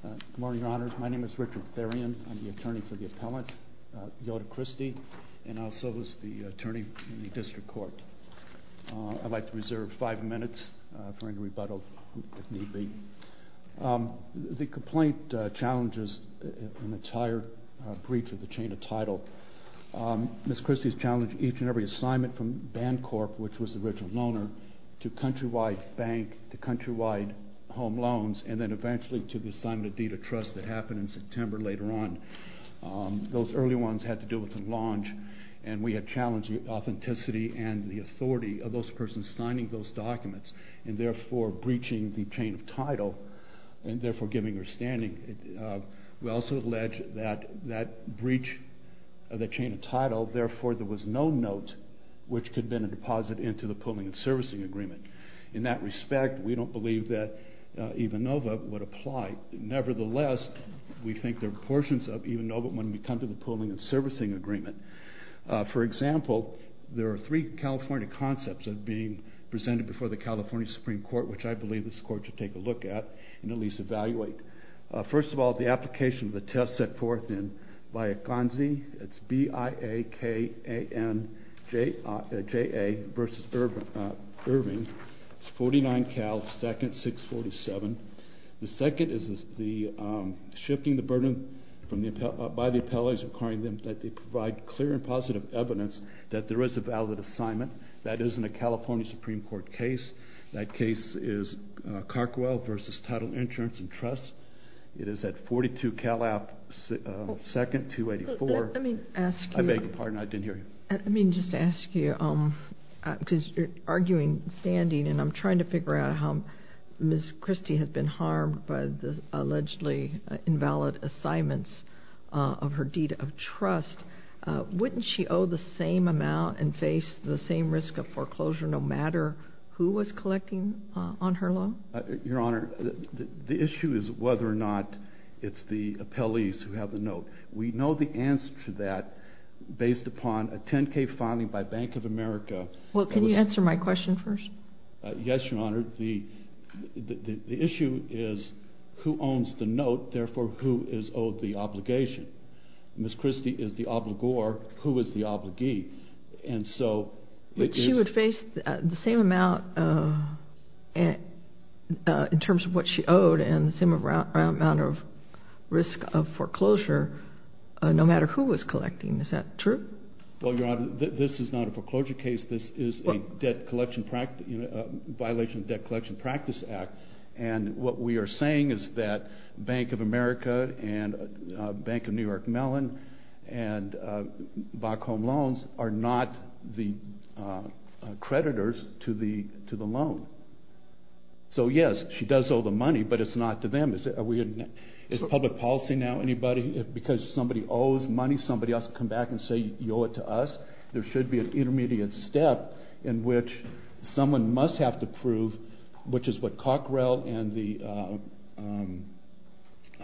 Good morning, Your Honor. My name is Richard Therrien. I'm the attorney for the appellant, Theota Christie, and I'll serve as the attorney in the district court. I'd like to reserve five minutes for any rebuttal, if need be. The complaint challenges an entire breach of the chain of title. Ms. Christie's challenged each and every assignment from Bancorp, which was the original loaner, to Countrywide Bank, to Countrywide Home Loans, and then eventually to the assignment of Deed of Trust that happened in September later on. Those early ones had to do with the launch, and we had challenged the authenticity and the authority of those persons signing those documents, and therefore breaching the chain of title, and therefore giving her standing. We also allege that that breach of the chain of title, therefore there was no note which could have been a deposit into the pooling and servicing agreement. In that respect, we don't believe that EVANOVA would apply. Nevertheless, we think there are portions of EVANOVA when we come to the pooling and servicing agreement. For example, there are three California concepts that are being presented before the California Supreme Court, which I believe this Court should take a look at and at least evaluate. First of all, the application of the test set forth in Viaconzi, it's B-I-A-K-A-N-J-A versus Irving, it's 49-Cal-2nd-647. The second is the shifting the burden by the appellate is requiring them that they provide clear and positive evidence that there is a valid assignment. That is in a California Supreme Court case. That case is Carkwell versus title insurance and trust. It is at 42-Cal-2nd-284. Let me ask you... I beg your pardon, I didn't hear you. Let me just ask you, because you're arguing standing and I'm trying to figure out how Ms. Christie has been harmed by the allegedly invalid assignments of her deed of trust. Wouldn't she owe the same amount and face the same risk of foreclosure no matter who was collecting on her loan? Your Honor, the issue is whether or not it's the appellees who have the note. We know the answer to that based upon a 10-K funding by Bank of America... Well, can you answer my question first? Yes, Your Honor. The issue is who owns the note, therefore who is owed the obligation. Ms. Christie is the obligor. Who is the obligee? But she would face the same amount in terms of what she owed and the same amount of risk of foreclosure no matter who was collecting. Is that true? Well, Your Honor, this is not a foreclosure case. This is a violation of the Debt Collection Practice Act, and what we are saying is that Bank of America and Bank of New York Mellon and Back Home Loans are not the creditors to the loan. So yes, she does owe the money, but it's not to them. Is public policy now anybody, because somebody owes money, somebody has to come back and say, you owe it to us? There should be an intermediate step in which someone must have to prove, which is what Cockrell and the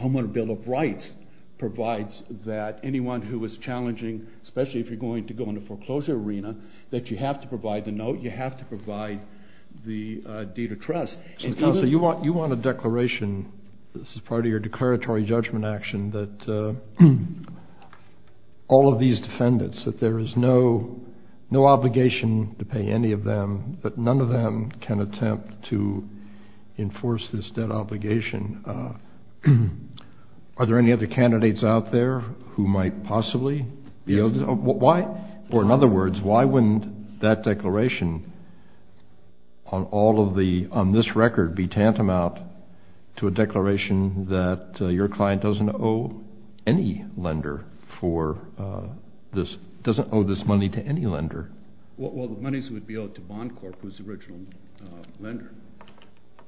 Homeowner Bill of Rights provides, that anyone who is challenging, especially if you're going to go into foreclosure arena, that you have to provide the note, you have to provide the deed of trust. Counsel, you want a declaration, this is part of your declaratory judgment action, that all of these defendants, that there is no obligation to pay any of them, that none of them can attempt to enforce this debt obligation. Are there any other candidates out there who might possibly be able to? Yes. Why, or in other words, why wouldn't that declaration on all of the, on this record be tantamount to a declaration that your client doesn't owe any lender for this, doesn't owe this money to any lender? Well, the monies would be owed to Bond Corp., who's the original lender.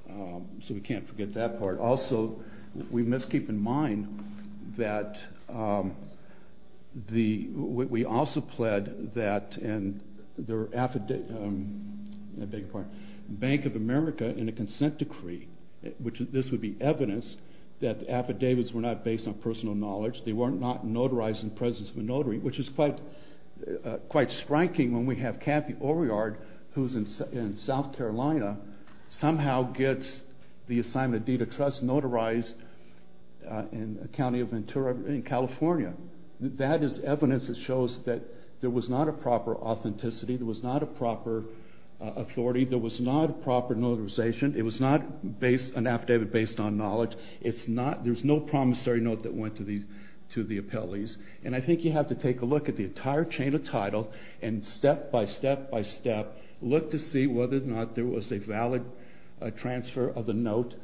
So we can't forget that part. Also, we must keep in mind that the, we also pled that, and there were affidavit, I beg your pardon, Bank of America in a consent decree, which this would be evidence that the affidavits were not based on personal knowledge, they were not notarized in the presence of a notary, which is quite striking when we have Kathy Oveyard, who's in South Carolina, somehow gets the assignment of deed of trust notarized in a county of Ventura in California. That is evidence that shows that there was not a proper authenticity, there was not a proper authority, there was not a proper notarization, it was not based, an affidavit based on knowledge, it's not, there's no promissory note that went to the appellees, and I think you have to take a look at the entire chain of title and step by step by step look to see whether or not there was a valid transfer of the note.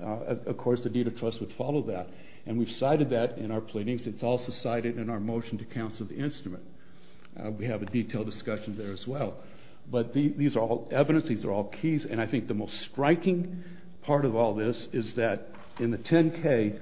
Of course, the deed of trust would follow that, and we've cited that in our pleadings, it's also cited in our motion to cancel the instrument. We have a detailed discussion there as well. But these are all evidence, these are all keys, and I think the most striking part of all this is that in the 10-K,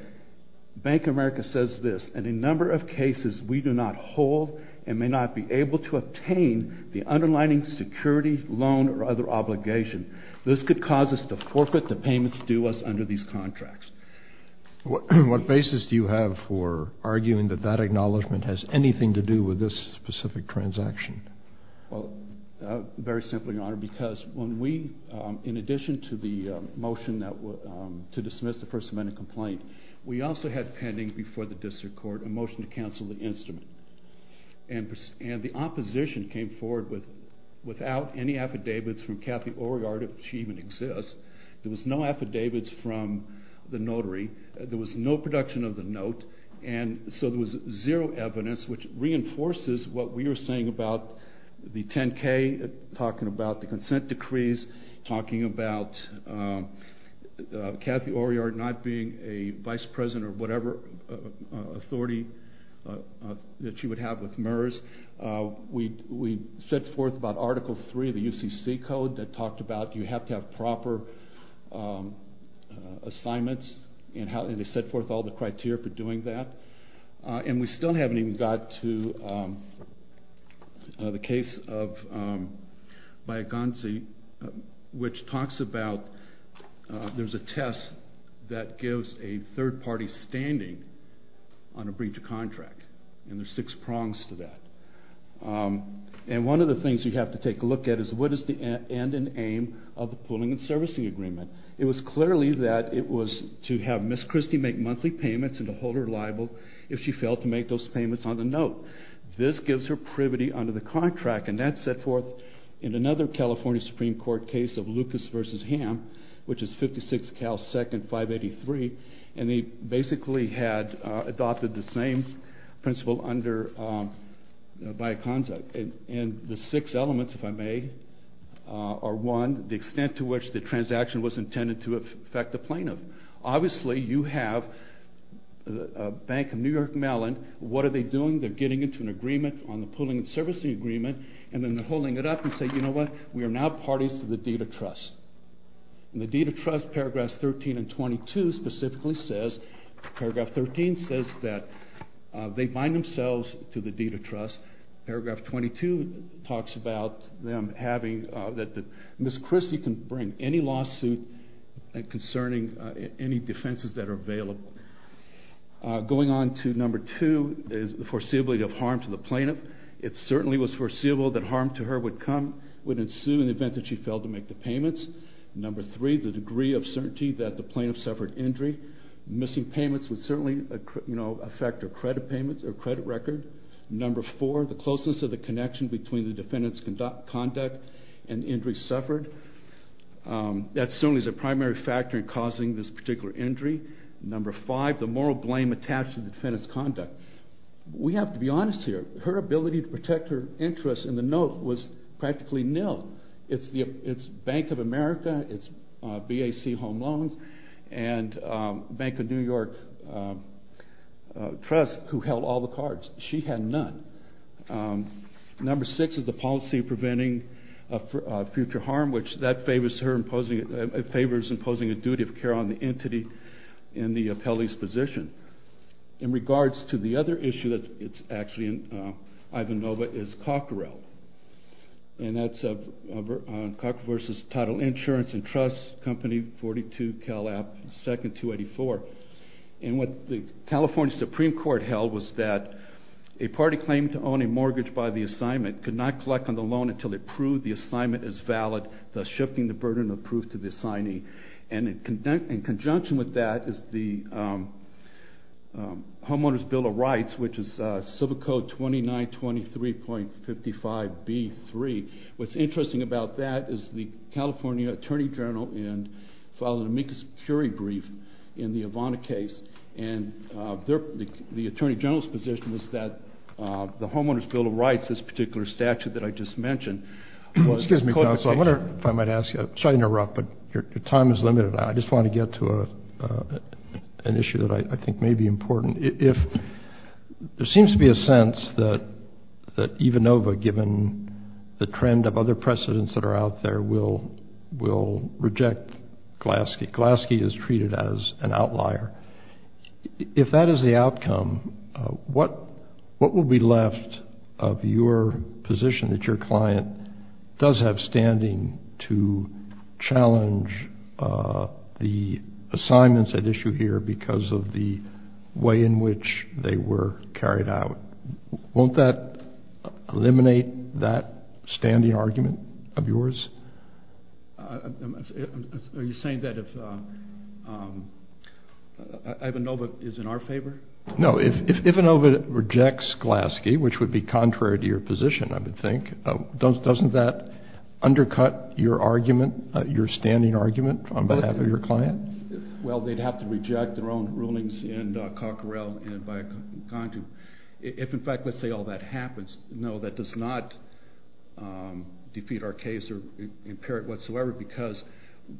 Bank of America says this, in a number of cases we do not hold and may not be able to obtain the underlining security, loan, or other obligation. This could cause us to forfeit the payments due us under these contracts. What basis do you have for arguing that that acknowledgement has anything to do with this specific transaction? Well, very simply, Your Honor, because when we, in addition to the motion to dismiss the First Amendment complaint, we also had pending before the district court a motion to cancel the instrument. And the opposition came forward without any affidavits from Kathy Oregard, if she even exists. There was no affidavits from the notary, there was no production of the note, and so there was zero evidence, which reinforces what we were saying about the 10-K, talking about the consent decrees, talking about Kathy Oregard not being a vice president or whatever authority that she would have with MERS. We set forth about you have to have proper assignments, and they set forth all the criteria for doing that. And we still haven't even got to the case of Bayekonzi, which talks about there's a test that gives a third party standing on a breach of contract, and there's six prongs to that. And one of the things you have to take a look at is what is the end and aim of the pooling and servicing agreement. It was clearly that it was to have Ms. Christie make monthly payments and to hold her liable if she failed to make those payments on the note. This gives her privity under the contract, and that's set forth in another California Supreme Court case of Lucas v. Hamm, which is 56 Cal 2nd 583, and they basically had adopted the same principle under Bayekonzi. And the six elements, if I may, are one, the extent to which the transaction was intended to affect the plaintiff. Obviously you have a bank in New York, Maryland, what are they doing? They're getting into an agreement on the pooling and servicing agreement, and then they're holding it up and say, you know what, we are now parties to the deed of trust. And the deed of trust, paragraphs 13 and 22 specifically says, paragraph 13 says that they bind themselves to the deed of trust. Paragraph 22 talks about them having, that Ms. Christie can bring any lawsuit concerning any defenses that are available. Going on to number two is the foreseeability of harm to the plaintiff. It certainly was foreseeable that harm to her would ensue in the event that she failed to make the payments. Number three, the degree of certainty that the plaintiff suffered injury. Missing payments would certainly affect her credit record. Number four, the closeness of the connection between the defendant's conduct and injury suffered. That certainly is a primary factor in causing this particular injury. We have to be honest here. Her ability to protect her interests in the note was practically nil. It's Bank of America, it's BAC Home Loans, and Bank of New York Trust who held all the cards. She had none. Number six is the policy preventing future harm, which that favors imposing a duty of care on the entity in the appellee's position. In regards to the other issue that's actually in Ivanova is Cockrell. And that's Cockrell versus Title Insurance and Trust Company, 42 Cal App, 2nd 284. And what the California Supreme Court held was that a party claimed to own a mortgage by the assignment could not collect on the loan until it proved the assignment as valid, thus shifting the burden of proof to the assignee. And in conjunction with that is the Homeowner's Bill of Rights, which is Civil Code 2923.55B3. What's interesting about that is the California Attorney General filed an amicus curiae brief in the Ivanova case. And the Attorney General's position was that the Homeowner's Bill of Rights, this particular statute that I just mentioned, was a court decision. Well, I wonder if I might ask you, sorry to interrupt, but your time is limited. I just want to get to an issue that I think may be important. There seems to be a sense that Ivanova, given the trend of other precedents that are out there, will reject Glaske. Glaske is treated as an outlier. If that is the outcome, what will be left of your position that your client does have standing to challenge the assignments at issue here because of the way in which they were carried out? Won't that eliminate that standing argument of yours? Are you saying that if Ivanova is in our favor? No. If Ivanova rejects Glaske, which would be contrary to your position, I would think, doesn't that undercut your argument, your standing argument on behalf of your client? Well, they'd have to reject their own rulings in Cocquerel and by Contu. If, in fact, let's say all that happens, no, that does not defeat our case or impair it whatsoever because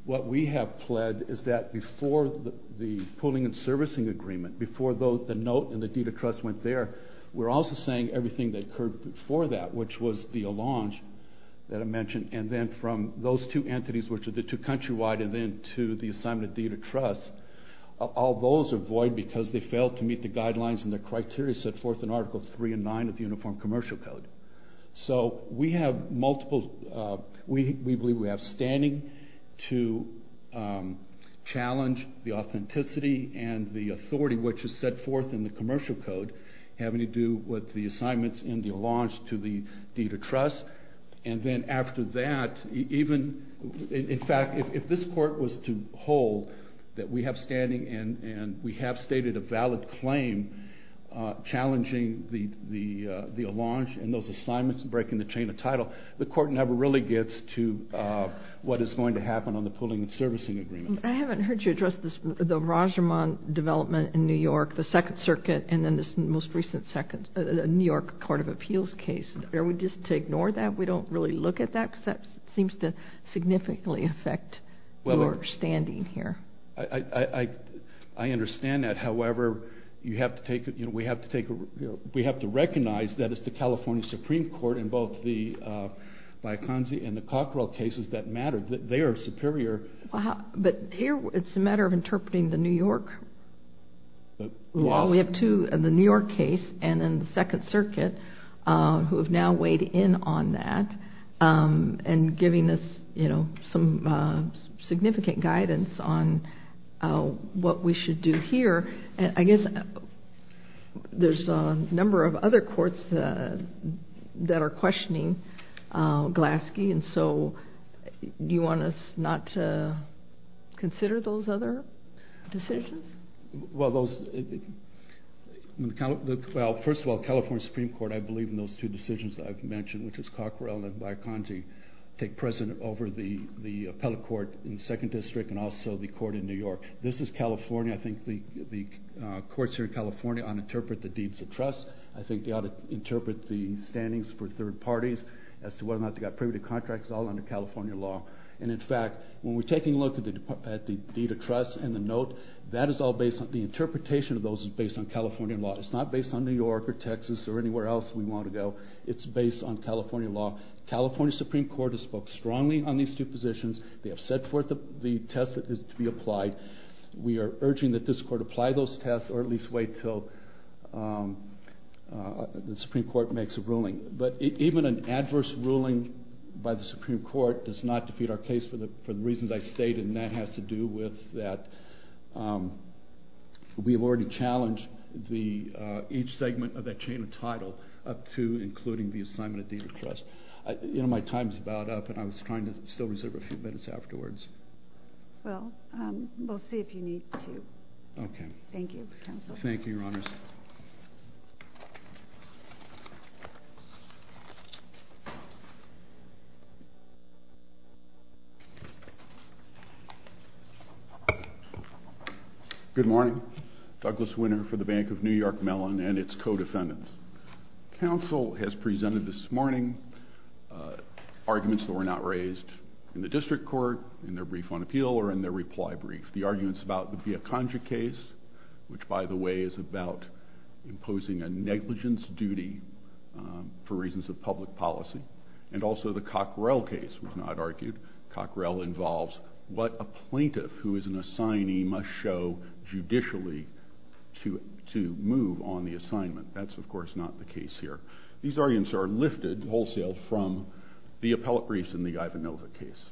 what we have pled is that before the pooling and servicing agreement, before the note and the deed of trust went there, we're also saying everything that occurred before that, which was the allonge that I mentioned, and then from those two entities, which are the two countrywide, and then to the assignment of deed of trust. All those are void because they failed to meet the guidelines and the criteria set forth in Article 3 and 9 of the Uniform Commercial Code. So we have multiple, we believe we have standing to challenge the authenticity and the authority which is set forth in the Commercial Code having to do with the assignments in the allonge to the deed of trust. And then after that, even, in fact, if this court was to hold that we have standing and we have stated a valid claim challenging the allonge and those assignments breaking the chain of title, the court never really gets to what is going to happen on the pooling and servicing agreement. I haven't heard you address the Rajaman development in New York, the Second Circuit, and then this most recent New York Court of Appeals case. Are we just to ignore that? We don't really look at that because that seems to significantly affect your standing here. I understand that. However, we have to recognize that it's the California Supreme Court and both the Bioconzi and the Cockrell cases that matter. They are superior. But here it's a matter of interpreting the New York law. We have two in the New York case and in the Second Circuit who have now weighed in on that and giving us some significant guidance on what we should do here. I guess there's a number of other courts that are questioning Glaske, and so do you want us not to consider those other decisions? Well, first of all, the California Supreme Court, I believe in those two decisions that I've mentioned, which is Cockrell and Bioconzi take precedent over the appellate court in the Second District and also the court in New York. This is California. I think the courts here in California ought to interpret the deeds of trust. I think they ought to interpret the standings for third parties as to whether or not they got privy to contracts all under California law. And in fact, when we're taking a look at the deed of trust and the note, the interpretation of those is based on California law. It's not based on New York or Texas or anywhere else we want to go. It's based on California law. The California Supreme Court has spoke strongly on these two positions. They have set forth the test that is to be applied. We are urging that this court apply those tests or at least wait until the Supreme Court makes a ruling. But even an adverse ruling by the Supreme Court does not defeat our case for the reasons I stated, and that has to do with that we have already challenged each segment of that chain of title up to including the assignment of deed of trust. My time is about up, and I was trying to still reserve a few minutes afterwards. Well, we'll see if you need to. Okay. Thank you, counsel. Thank you, Your Honors. Good morning. Douglas Winter for the Bank of New York Mellon and its co-defendants. Counsel has presented this morning arguments that were not raised in the district court, in their brief on appeal, or in their reply brief. The arguments about the Via Conjure case, which, by the way, is about imposing a negligence duty for reasons of public policy, and also the Cockrell case was not argued. Cockrell involves what a plaintiff who is an assignee must show judicially to move on the assignment. That's, of course, not the case here. These arguments are lifted wholesale from the appellate briefs in the Ivanova case.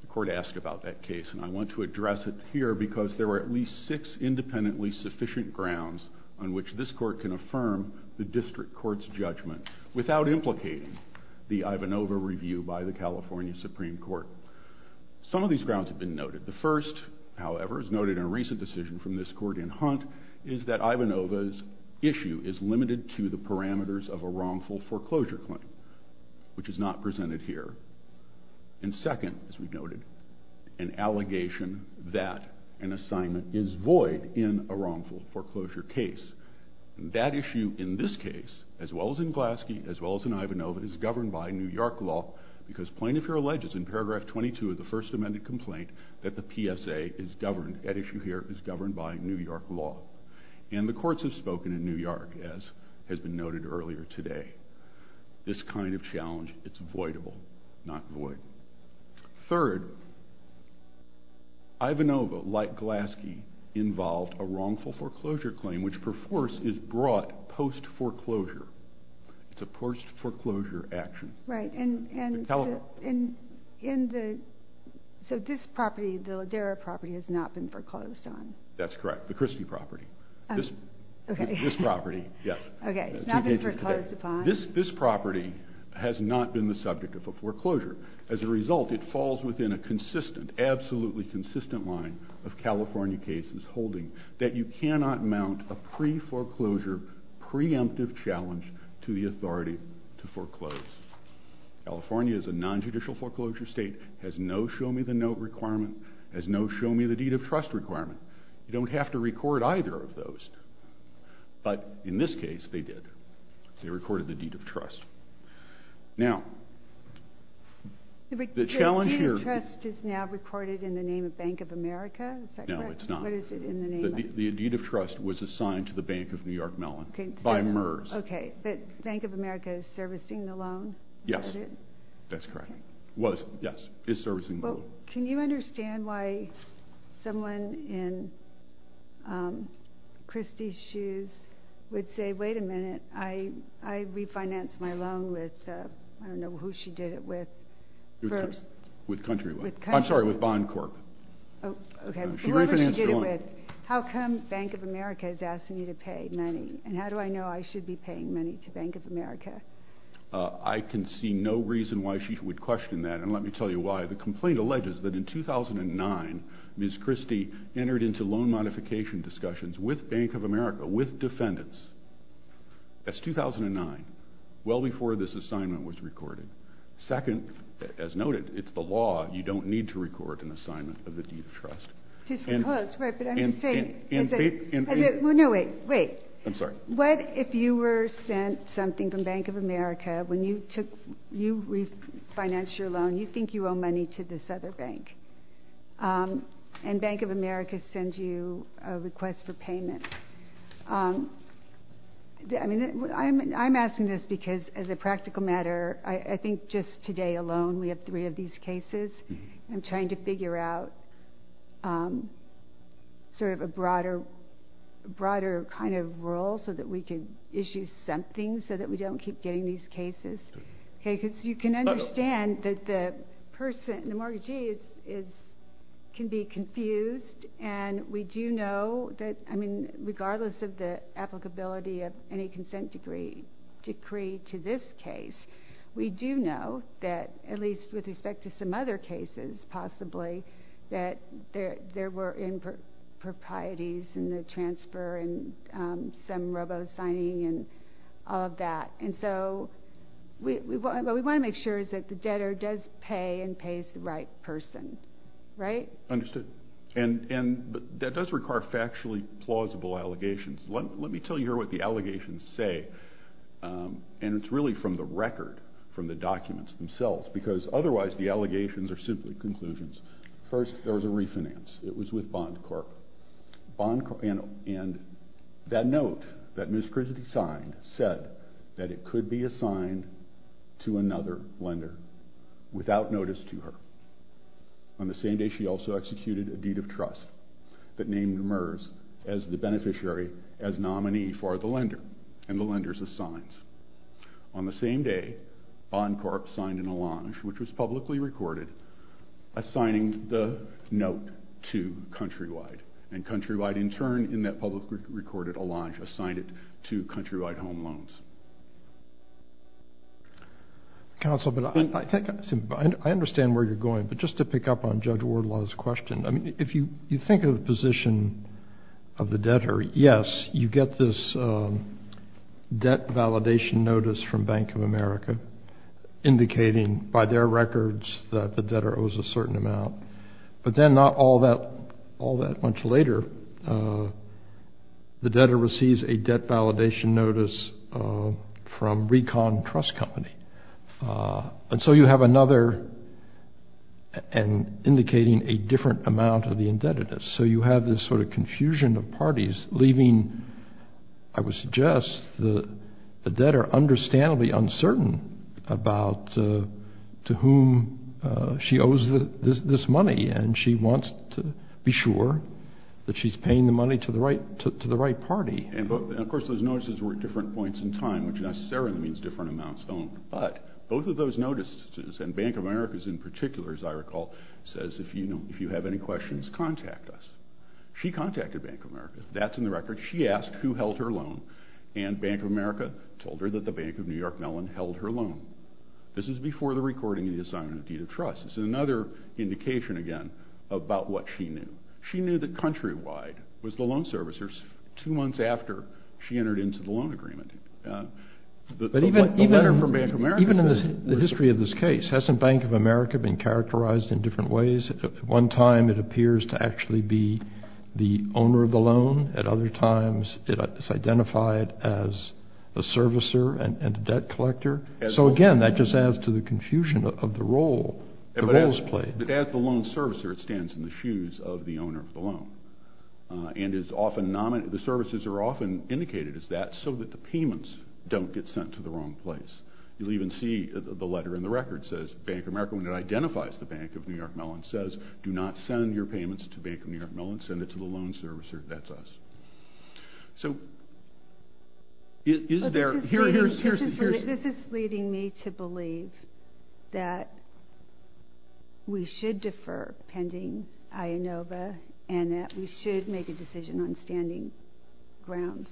The court asked about that case, and I want to address it here because there were at least six independently sufficient grounds on which this court can affirm the district court's judgment without implicating the Ivanova review by the California Supreme Court. Some of these grounds have been noted. The first, however, is noted in a recent decision from this court in Hunt, is that Ivanova's issue is limited to the parameters of a wrongful foreclosure claim, which is not presented here. And second, as we've noted, an allegation that an assignment is void in a wrongful foreclosure case. That issue in this case, as well as in Glasky, as well as in Ivanova, is governed by New York law because plaintiff here alleges in paragraph 22 of the First Amendment complaint that the PSA is governed, that issue here is governed by New York law. And the courts have spoken in New York, as has been noted earlier today. This kind of challenge, it's voidable, not void. Third, Ivanova, like Glasky, involved a wrongful foreclosure claim, which perforce is brought post-foreclosure. It's a post-foreclosure action. Right, and so this property, the Ladera property, has not been foreclosed on. That's correct, the Christie property. Okay. This property, yes. Okay, it's not been foreclosed upon. This property has not been the subject of a foreclosure. As a result, it falls within a consistent, absolutely consistent line of California cases holding that you cannot mount a pre-foreclosure, preemptive challenge to the authority to foreclose. California is a nonjudicial foreclosure state, has no show-me-the-note requirement, has no show-me-the-deed-of-trust requirement. You don't have to record either of those. But in this case, they did. They recorded the deed of trust. Now, the challenge here is— The deed of trust is now recorded in the name of Bank of America? Is that correct? No, it's not. What is it in the name of? The deed of trust was assigned to the Bank of New York Mellon by MERS. Okay, but Bank of America is servicing the loan? Yes, that's correct. Was, yes, is servicing the loan. Can you understand why someone in Christie's shoes would say, wait a minute, I refinanced my loan with, I don't know who she did it with. With Countrywood. I'm sorry, with Bond Corp. Okay, whoever she did it with. How come Bank of America is asking you to pay money, and how do I know I should be paying money to Bank of America? I can see no reason why she would question that, and let me tell you why. The complaint alleges that in 2009, Ms. Christie entered into loan modification discussions with Bank of America, with defendants. That's 2009, well before this assignment was recorded. Second, as noted, it's the law. You don't need to record an assignment of the deed of trust. Well, that's right, but I'm just saying. No, wait, wait. I'm sorry. What if you were sent something from Bank of America, when you refinanced your loan, you think you owe money to this other bank, and Bank of America sends you a request for payment? I'm asking this because, as a practical matter, I think just today alone we have three of these cases. I'm trying to figure out sort of a broader kind of role so that we can issue something so that we don't keep getting these cases. Okay, because you can understand that the person, the mortgagee, can be confused, and we do know that, I mean, regardless of the applicability of any consent decree to this case, we do know that, at least with respect to some other cases possibly, that there were improprieties in the transfer and some robo-signing and all of that. And so what we want to make sure is that the debtor does pay and pays the right person, right? Understood. And that does require factually plausible allegations. Let me tell you here what the allegations say, and it's really from the record, from the documents themselves, because otherwise the allegations are simply conclusions. First, there was a refinance. It was with Bond Corp. And that note that Ms. Christie signed said that it could be assigned to another lender without notice to her. On the same day, she also executed a deed of trust that named Merz as the beneficiary, as nominee for the lender, and the lenders of signs. On the same day, Bond Corp. signed an allonge, which was publicly recorded, assigning the note to Countrywide. And Countrywide, in turn, in that publicly recorded allonge, assigned it to Countrywide Home Loans. Counsel, I understand where you're going, but just to pick up on Judge Wardlaw's question, if you think of the position of the debtor, yes, you get this debt validation notice from Bank of America, indicating by their records that the debtor owes a certain amount. But then not all that much later, the debtor receives a debt validation notice from Recon Trust Company. And so you have another, indicating a different amount of the indebtedness. So you have this sort of confusion of parties, leaving, I would suggest, the debtor understandably uncertain about to whom she owes this money, and she wants to be sure that she's paying the money to the right party. And, of course, those notices were at different points in time, which necessarily means different amounts owed. But both of those notices, and Bank of America's in particular, as I recall, says, if you have any questions, contact us. She contacted Bank of America. That's in the records. She asked who held her loan, and Bank of America told her that the Bank of New York Mellon held her loan. This is before the recording of the assignment of deed of trust. It's another indication, again, about what she knew. She knew that Countrywide was the loan servicer two months after she entered into the loan agreement. But even in the history of this case, hasn't Bank of America been characterized in different ways? At one time, it appears to actually be the owner of the loan. At other times, it's identified as a servicer and a debt collector. So, again, that just adds to the confusion of the role the roles play. But as the loan servicer, it stands in the shoes of the owner of the loan. And the services are often indicated as that so that the payments don't get sent to the wrong place. You'll even see the letter in the record says, Bank of America, when it identifies the Bank of New York Mellon, says, do not send your payments to Bank of New York Mellon. Send it to the loan servicer. That's us. So, is there... This is leading me to believe that we should defer pending IANOVA and that we should make a decision on standing grounds.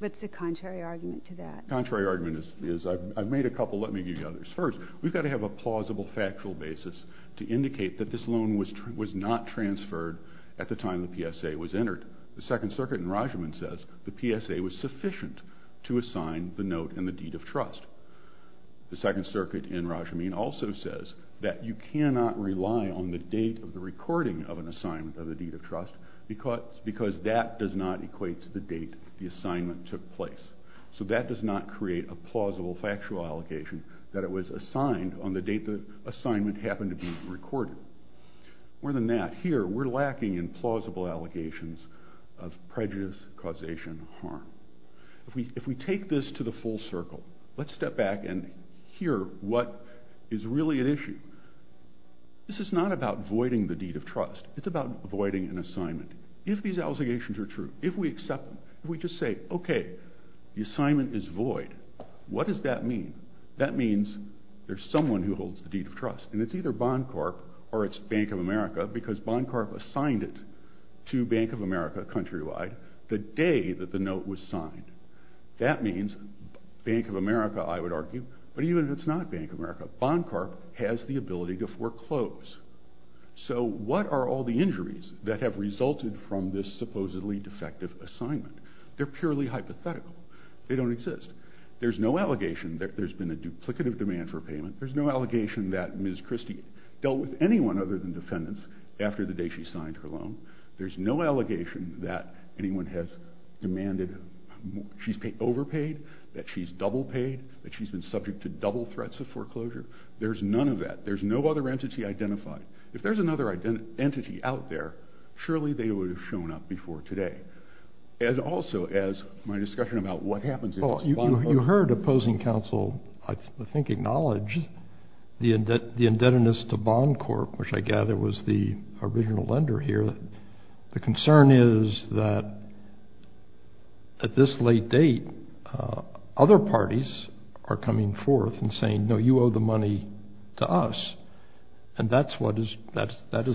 But it's a contrary argument to that. Contrary argument is... I've made a couple. Let me give you the others. First, we've got to have a plausible factual basis to indicate that this loan was not transferred at the time the PSA was entered. The Second Circuit in Rajahman says the PSA was sufficient to assign the note and the deed of trust. The Second Circuit in Rajahman also says that you cannot rely on the date of the recording of an assignment of the deed of trust because that does not equate to the date the assignment took place. So that does not create a plausible factual allegation that it was assigned on the date the assignment happened to be recorded. More than that, here we're lacking in plausible allegations of prejudice, causation, harm. If we take this to the full circle, let's step back and hear what is really at issue. This is not about voiding the deed of trust. It's about voiding an assignment. If these allegations are true, if we accept them, if we just say, OK, the assignment is void, what does that mean? That means there's someone who holds the deed of trust, and it's either Bond Corp or it's Bank of America because Bond Corp assigned it to Bank of America countrywide the day that the note was signed. That means Bank of America, I would argue, but even if it's not Bank of America, Bond Corp has the ability to foreclose. So what are all the injuries that have resulted from this supposedly defective assignment? They're purely hypothetical. They don't exist. There's no allegation that there's been a duplicative demand for payment. There's no allegation that Ms. Christie dealt with anyone other than defendants after the day she signed her loan. There's no allegation that anyone has demanded she's overpaid, that she's double paid, that she's been subject to double threats of foreclosure. There's none of that. There's no other entity identified. If there's another entity out there, surely they would have shown up before today, as also as my discussion about what happens if it's Bond Corp. You heard opposing counsel, I think, acknowledge the indebtedness to Bond Corp, which I gather was the original lender here. The concern is that at this late date, other parties are coming forth and saying, no, you owe the money to us, and that is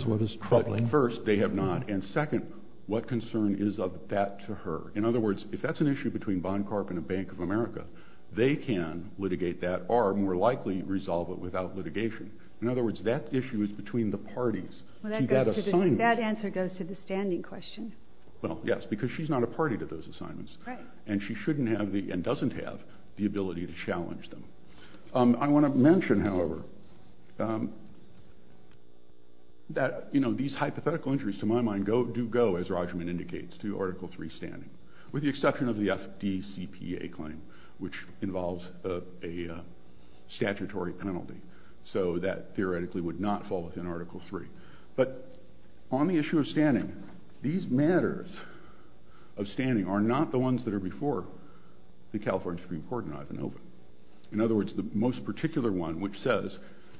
what is troubling. But first, they have not. And second, what concern is of that to her? In other words, if that's an issue between Bond Corp. and the Bank of America, they can litigate that or more likely resolve it without litigation. In other words, that issue is between the parties to that assignment. Well, that answer goes to the standing question. Well, yes, because she's not a party to those assignments. Right. And she shouldn't have and doesn't have the ability to challenge them. I want to mention, however, that these hypothetical injuries, to my mind, do go, as Rogerman indicates, to Article III standing, with the exception of the FDCPA claim, which involves a statutory penalty. So that theoretically would not fall within Article III. But on the issue of standing, these matters of standing are not the ones that are before the California Supreme Court and Ivanova. In other words, the most particular one, which says,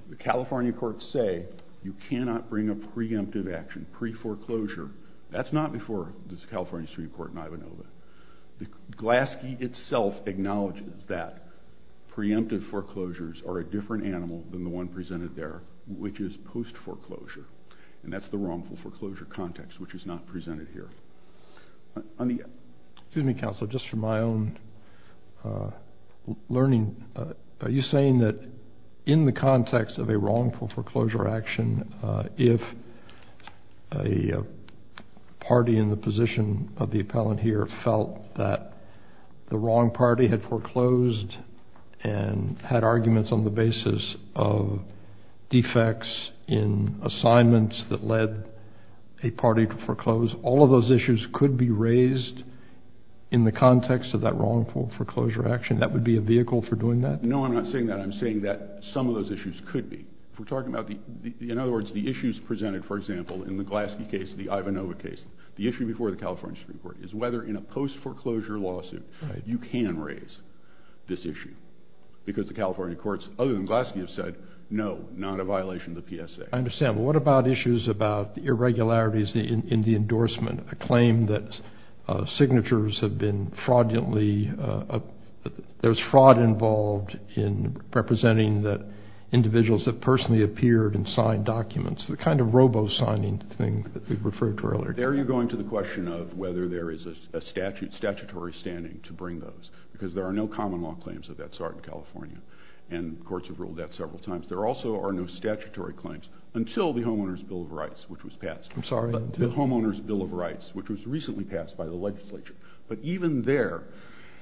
the California courts say you cannot bring a preemptive action, pre-foreclosure. That's not before the California Supreme Court and Ivanova. The Glaske itself acknowledges that preemptive foreclosures are a different animal than the one presented there, which is post-foreclosure. And that's the wrongful foreclosure context, which is not presented here. Excuse me, Counselor, just from my own learning. Are you saying that in the context of a wrongful foreclosure action, if a party in the position of the appellant here felt that the wrong party had foreclosed and had arguments on the basis of defects in assignments that led a party to foreclose, all of those issues could be raised in the context of that wrongful foreclosure action? That would be a vehicle for doing that? No, I'm not saying that. I'm saying that some of those issues could be. We're talking about, in other words, the issues presented, for example, in the Glaske case, the Ivanova case, the issue before the California Supreme Court, is whether in a post-foreclosure lawsuit you can raise this issue, because the California courts, other than Glaske, have said, no, not a violation of the PSA. I understand, but what about issues about irregularities in the endorsement, a claim that signatures have been fraudulently, there's fraud involved in representing individuals that personally appeared and signed documents, the kind of robo-signing thing that we referred to earlier. There you're going to the question of whether there is a statutory standing to bring those, because there are no common law claims of that sort in California, and courts have ruled that several times. There also are no statutory claims until the Homeowner's Bill of Rights, which was passed. I'm sorry, until? The Homeowner's Bill of Rights, which was recently passed by the legislature. But even there,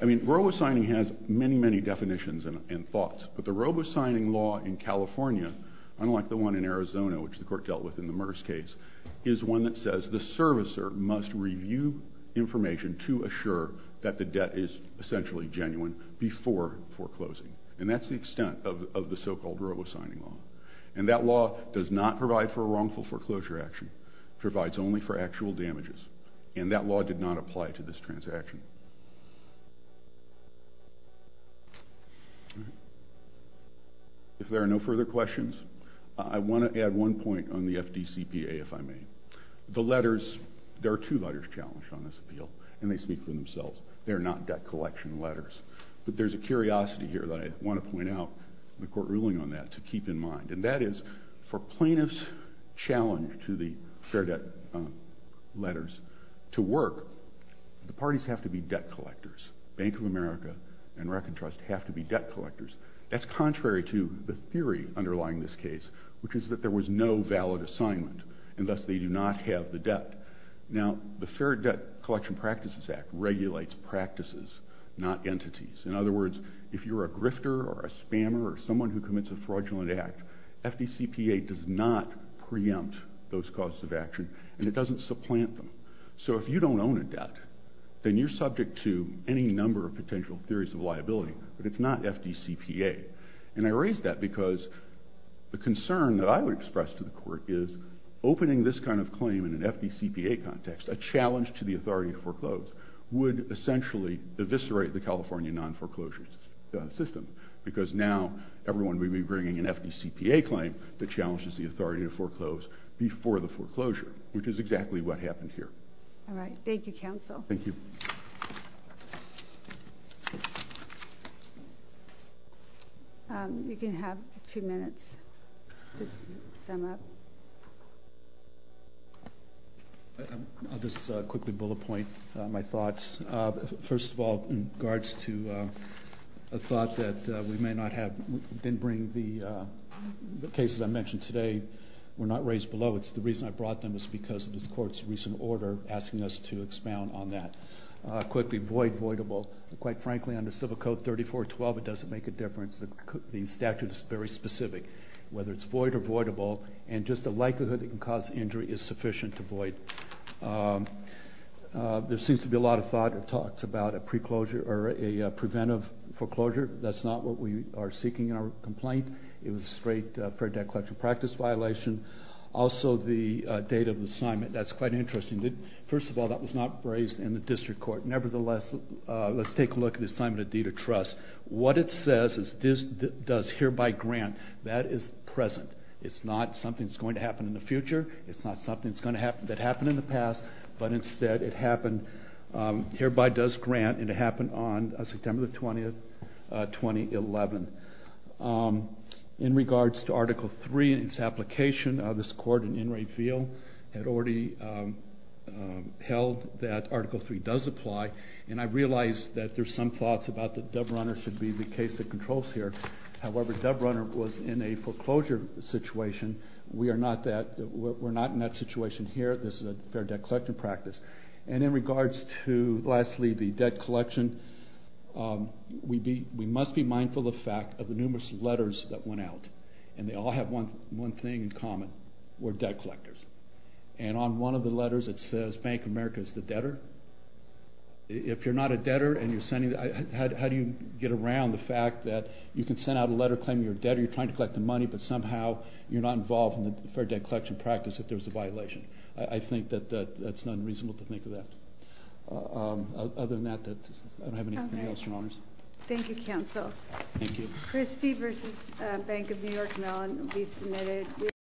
I mean, robo-signing has many, many definitions and thoughts, but the robo-signing law in California, unlike the one in Arizona, which the court dealt with in the Merce case, is one that says the servicer must review information to assure that the debt is essentially genuine before foreclosing. And that's the extent of the so-called robo-signing law. And that law does not provide for a wrongful foreclosure action. It provides only for actual damages, and that law did not apply to this transaction. If there are no further questions, I want to add one point on the FDCPA, if I may. The letters, there are two letters challenged on this appeal, and they speak for themselves. They are not debt collection letters. But there's a curiosity here that I want to point out in the court ruling on that to keep in mind, and that is for plaintiffs' challenge to the fair debt letters to work, the parties have to be debt collectors. Bank of America and Reckon Trust have to be debt collectors. That's contrary to the theory underlying this case, which is that there was no valid assignment, and thus they do not have the debt. Now, the Fair Debt Collection Practices Act regulates practices, not entities. In other words, if you're a grifter or a spammer or someone who commits a fraudulent act, FDCPA does not preempt those causes of action, and it doesn't supplant them. So if you don't own a debt, then you're subject to any number of potential theories of liability. But it's not FDCPA. And I raise that because the concern that I would express to the court is opening this kind of claim in an FDCPA context, a challenge to the authority to foreclose, would essentially eviscerate the California non-foreclosure system because now everyone will be bringing an FDCPA claim that challenges the authority to foreclose before the foreclosure, which is exactly what happened here. All right. Thank you, counsel. Thank you. You can have two minutes to sum up. I'll just quickly bullet point my thoughts. First of all, in regards to a thought that we may not have, didn't bring the cases I mentioned today were not raised below. It's the reason I brought them is because of the court's recent order asking us to expound on that. Quickly, void, voidable. Quite frankly, under civil code 3412, it doesn't make a difference. The statute is very specific, whether it's void or voidable, and just the likelihood it can cause injury is sufficient to void. There seems to be a lot of thought and talks about a preclosure or a preventive foreclosure. That's not what we are seeking in our complaint. It was a straight fair debt collection practice violation. Also, the date of the assignment, that's quite interesting. First of all, that was not raised in the district court. Nevertheless, let's take a look at the assignment of deed of trust. What it says is this does hereby grant. That is present. It's not something that's going to happen in the future. It's not something that happened in the past, but instead it happened, hereby does grant, and it happened on September 20, 2011. In regards to Article III and its application, this court in Enright Field had already held that Article III does apply, and I realize that there's some thoughts about that Dubrunner should be the case that controls here. However, Dubrunner was in a foreclosure situation. We are not in that situation here. This is a fair debt collection practice. And in regards to, lastly, the debt collection, we must be mindful of the fact of the numerous letters that went out, and they all have one thing in common. We're debt collectors. And on one of the letters, it says Bank of America is the debtor. If you're not a debtor and you're sending— how do you get around the fact that you can send out a letter claiming you're a debtor, you're trying to collect the money, but somehow you're not involved in the fair debt collection practice if there's a violation? I think that that's unreasonable to think of that. Other than that, I don't have anything else, Your Honors. Thank you, counsel. Thank you.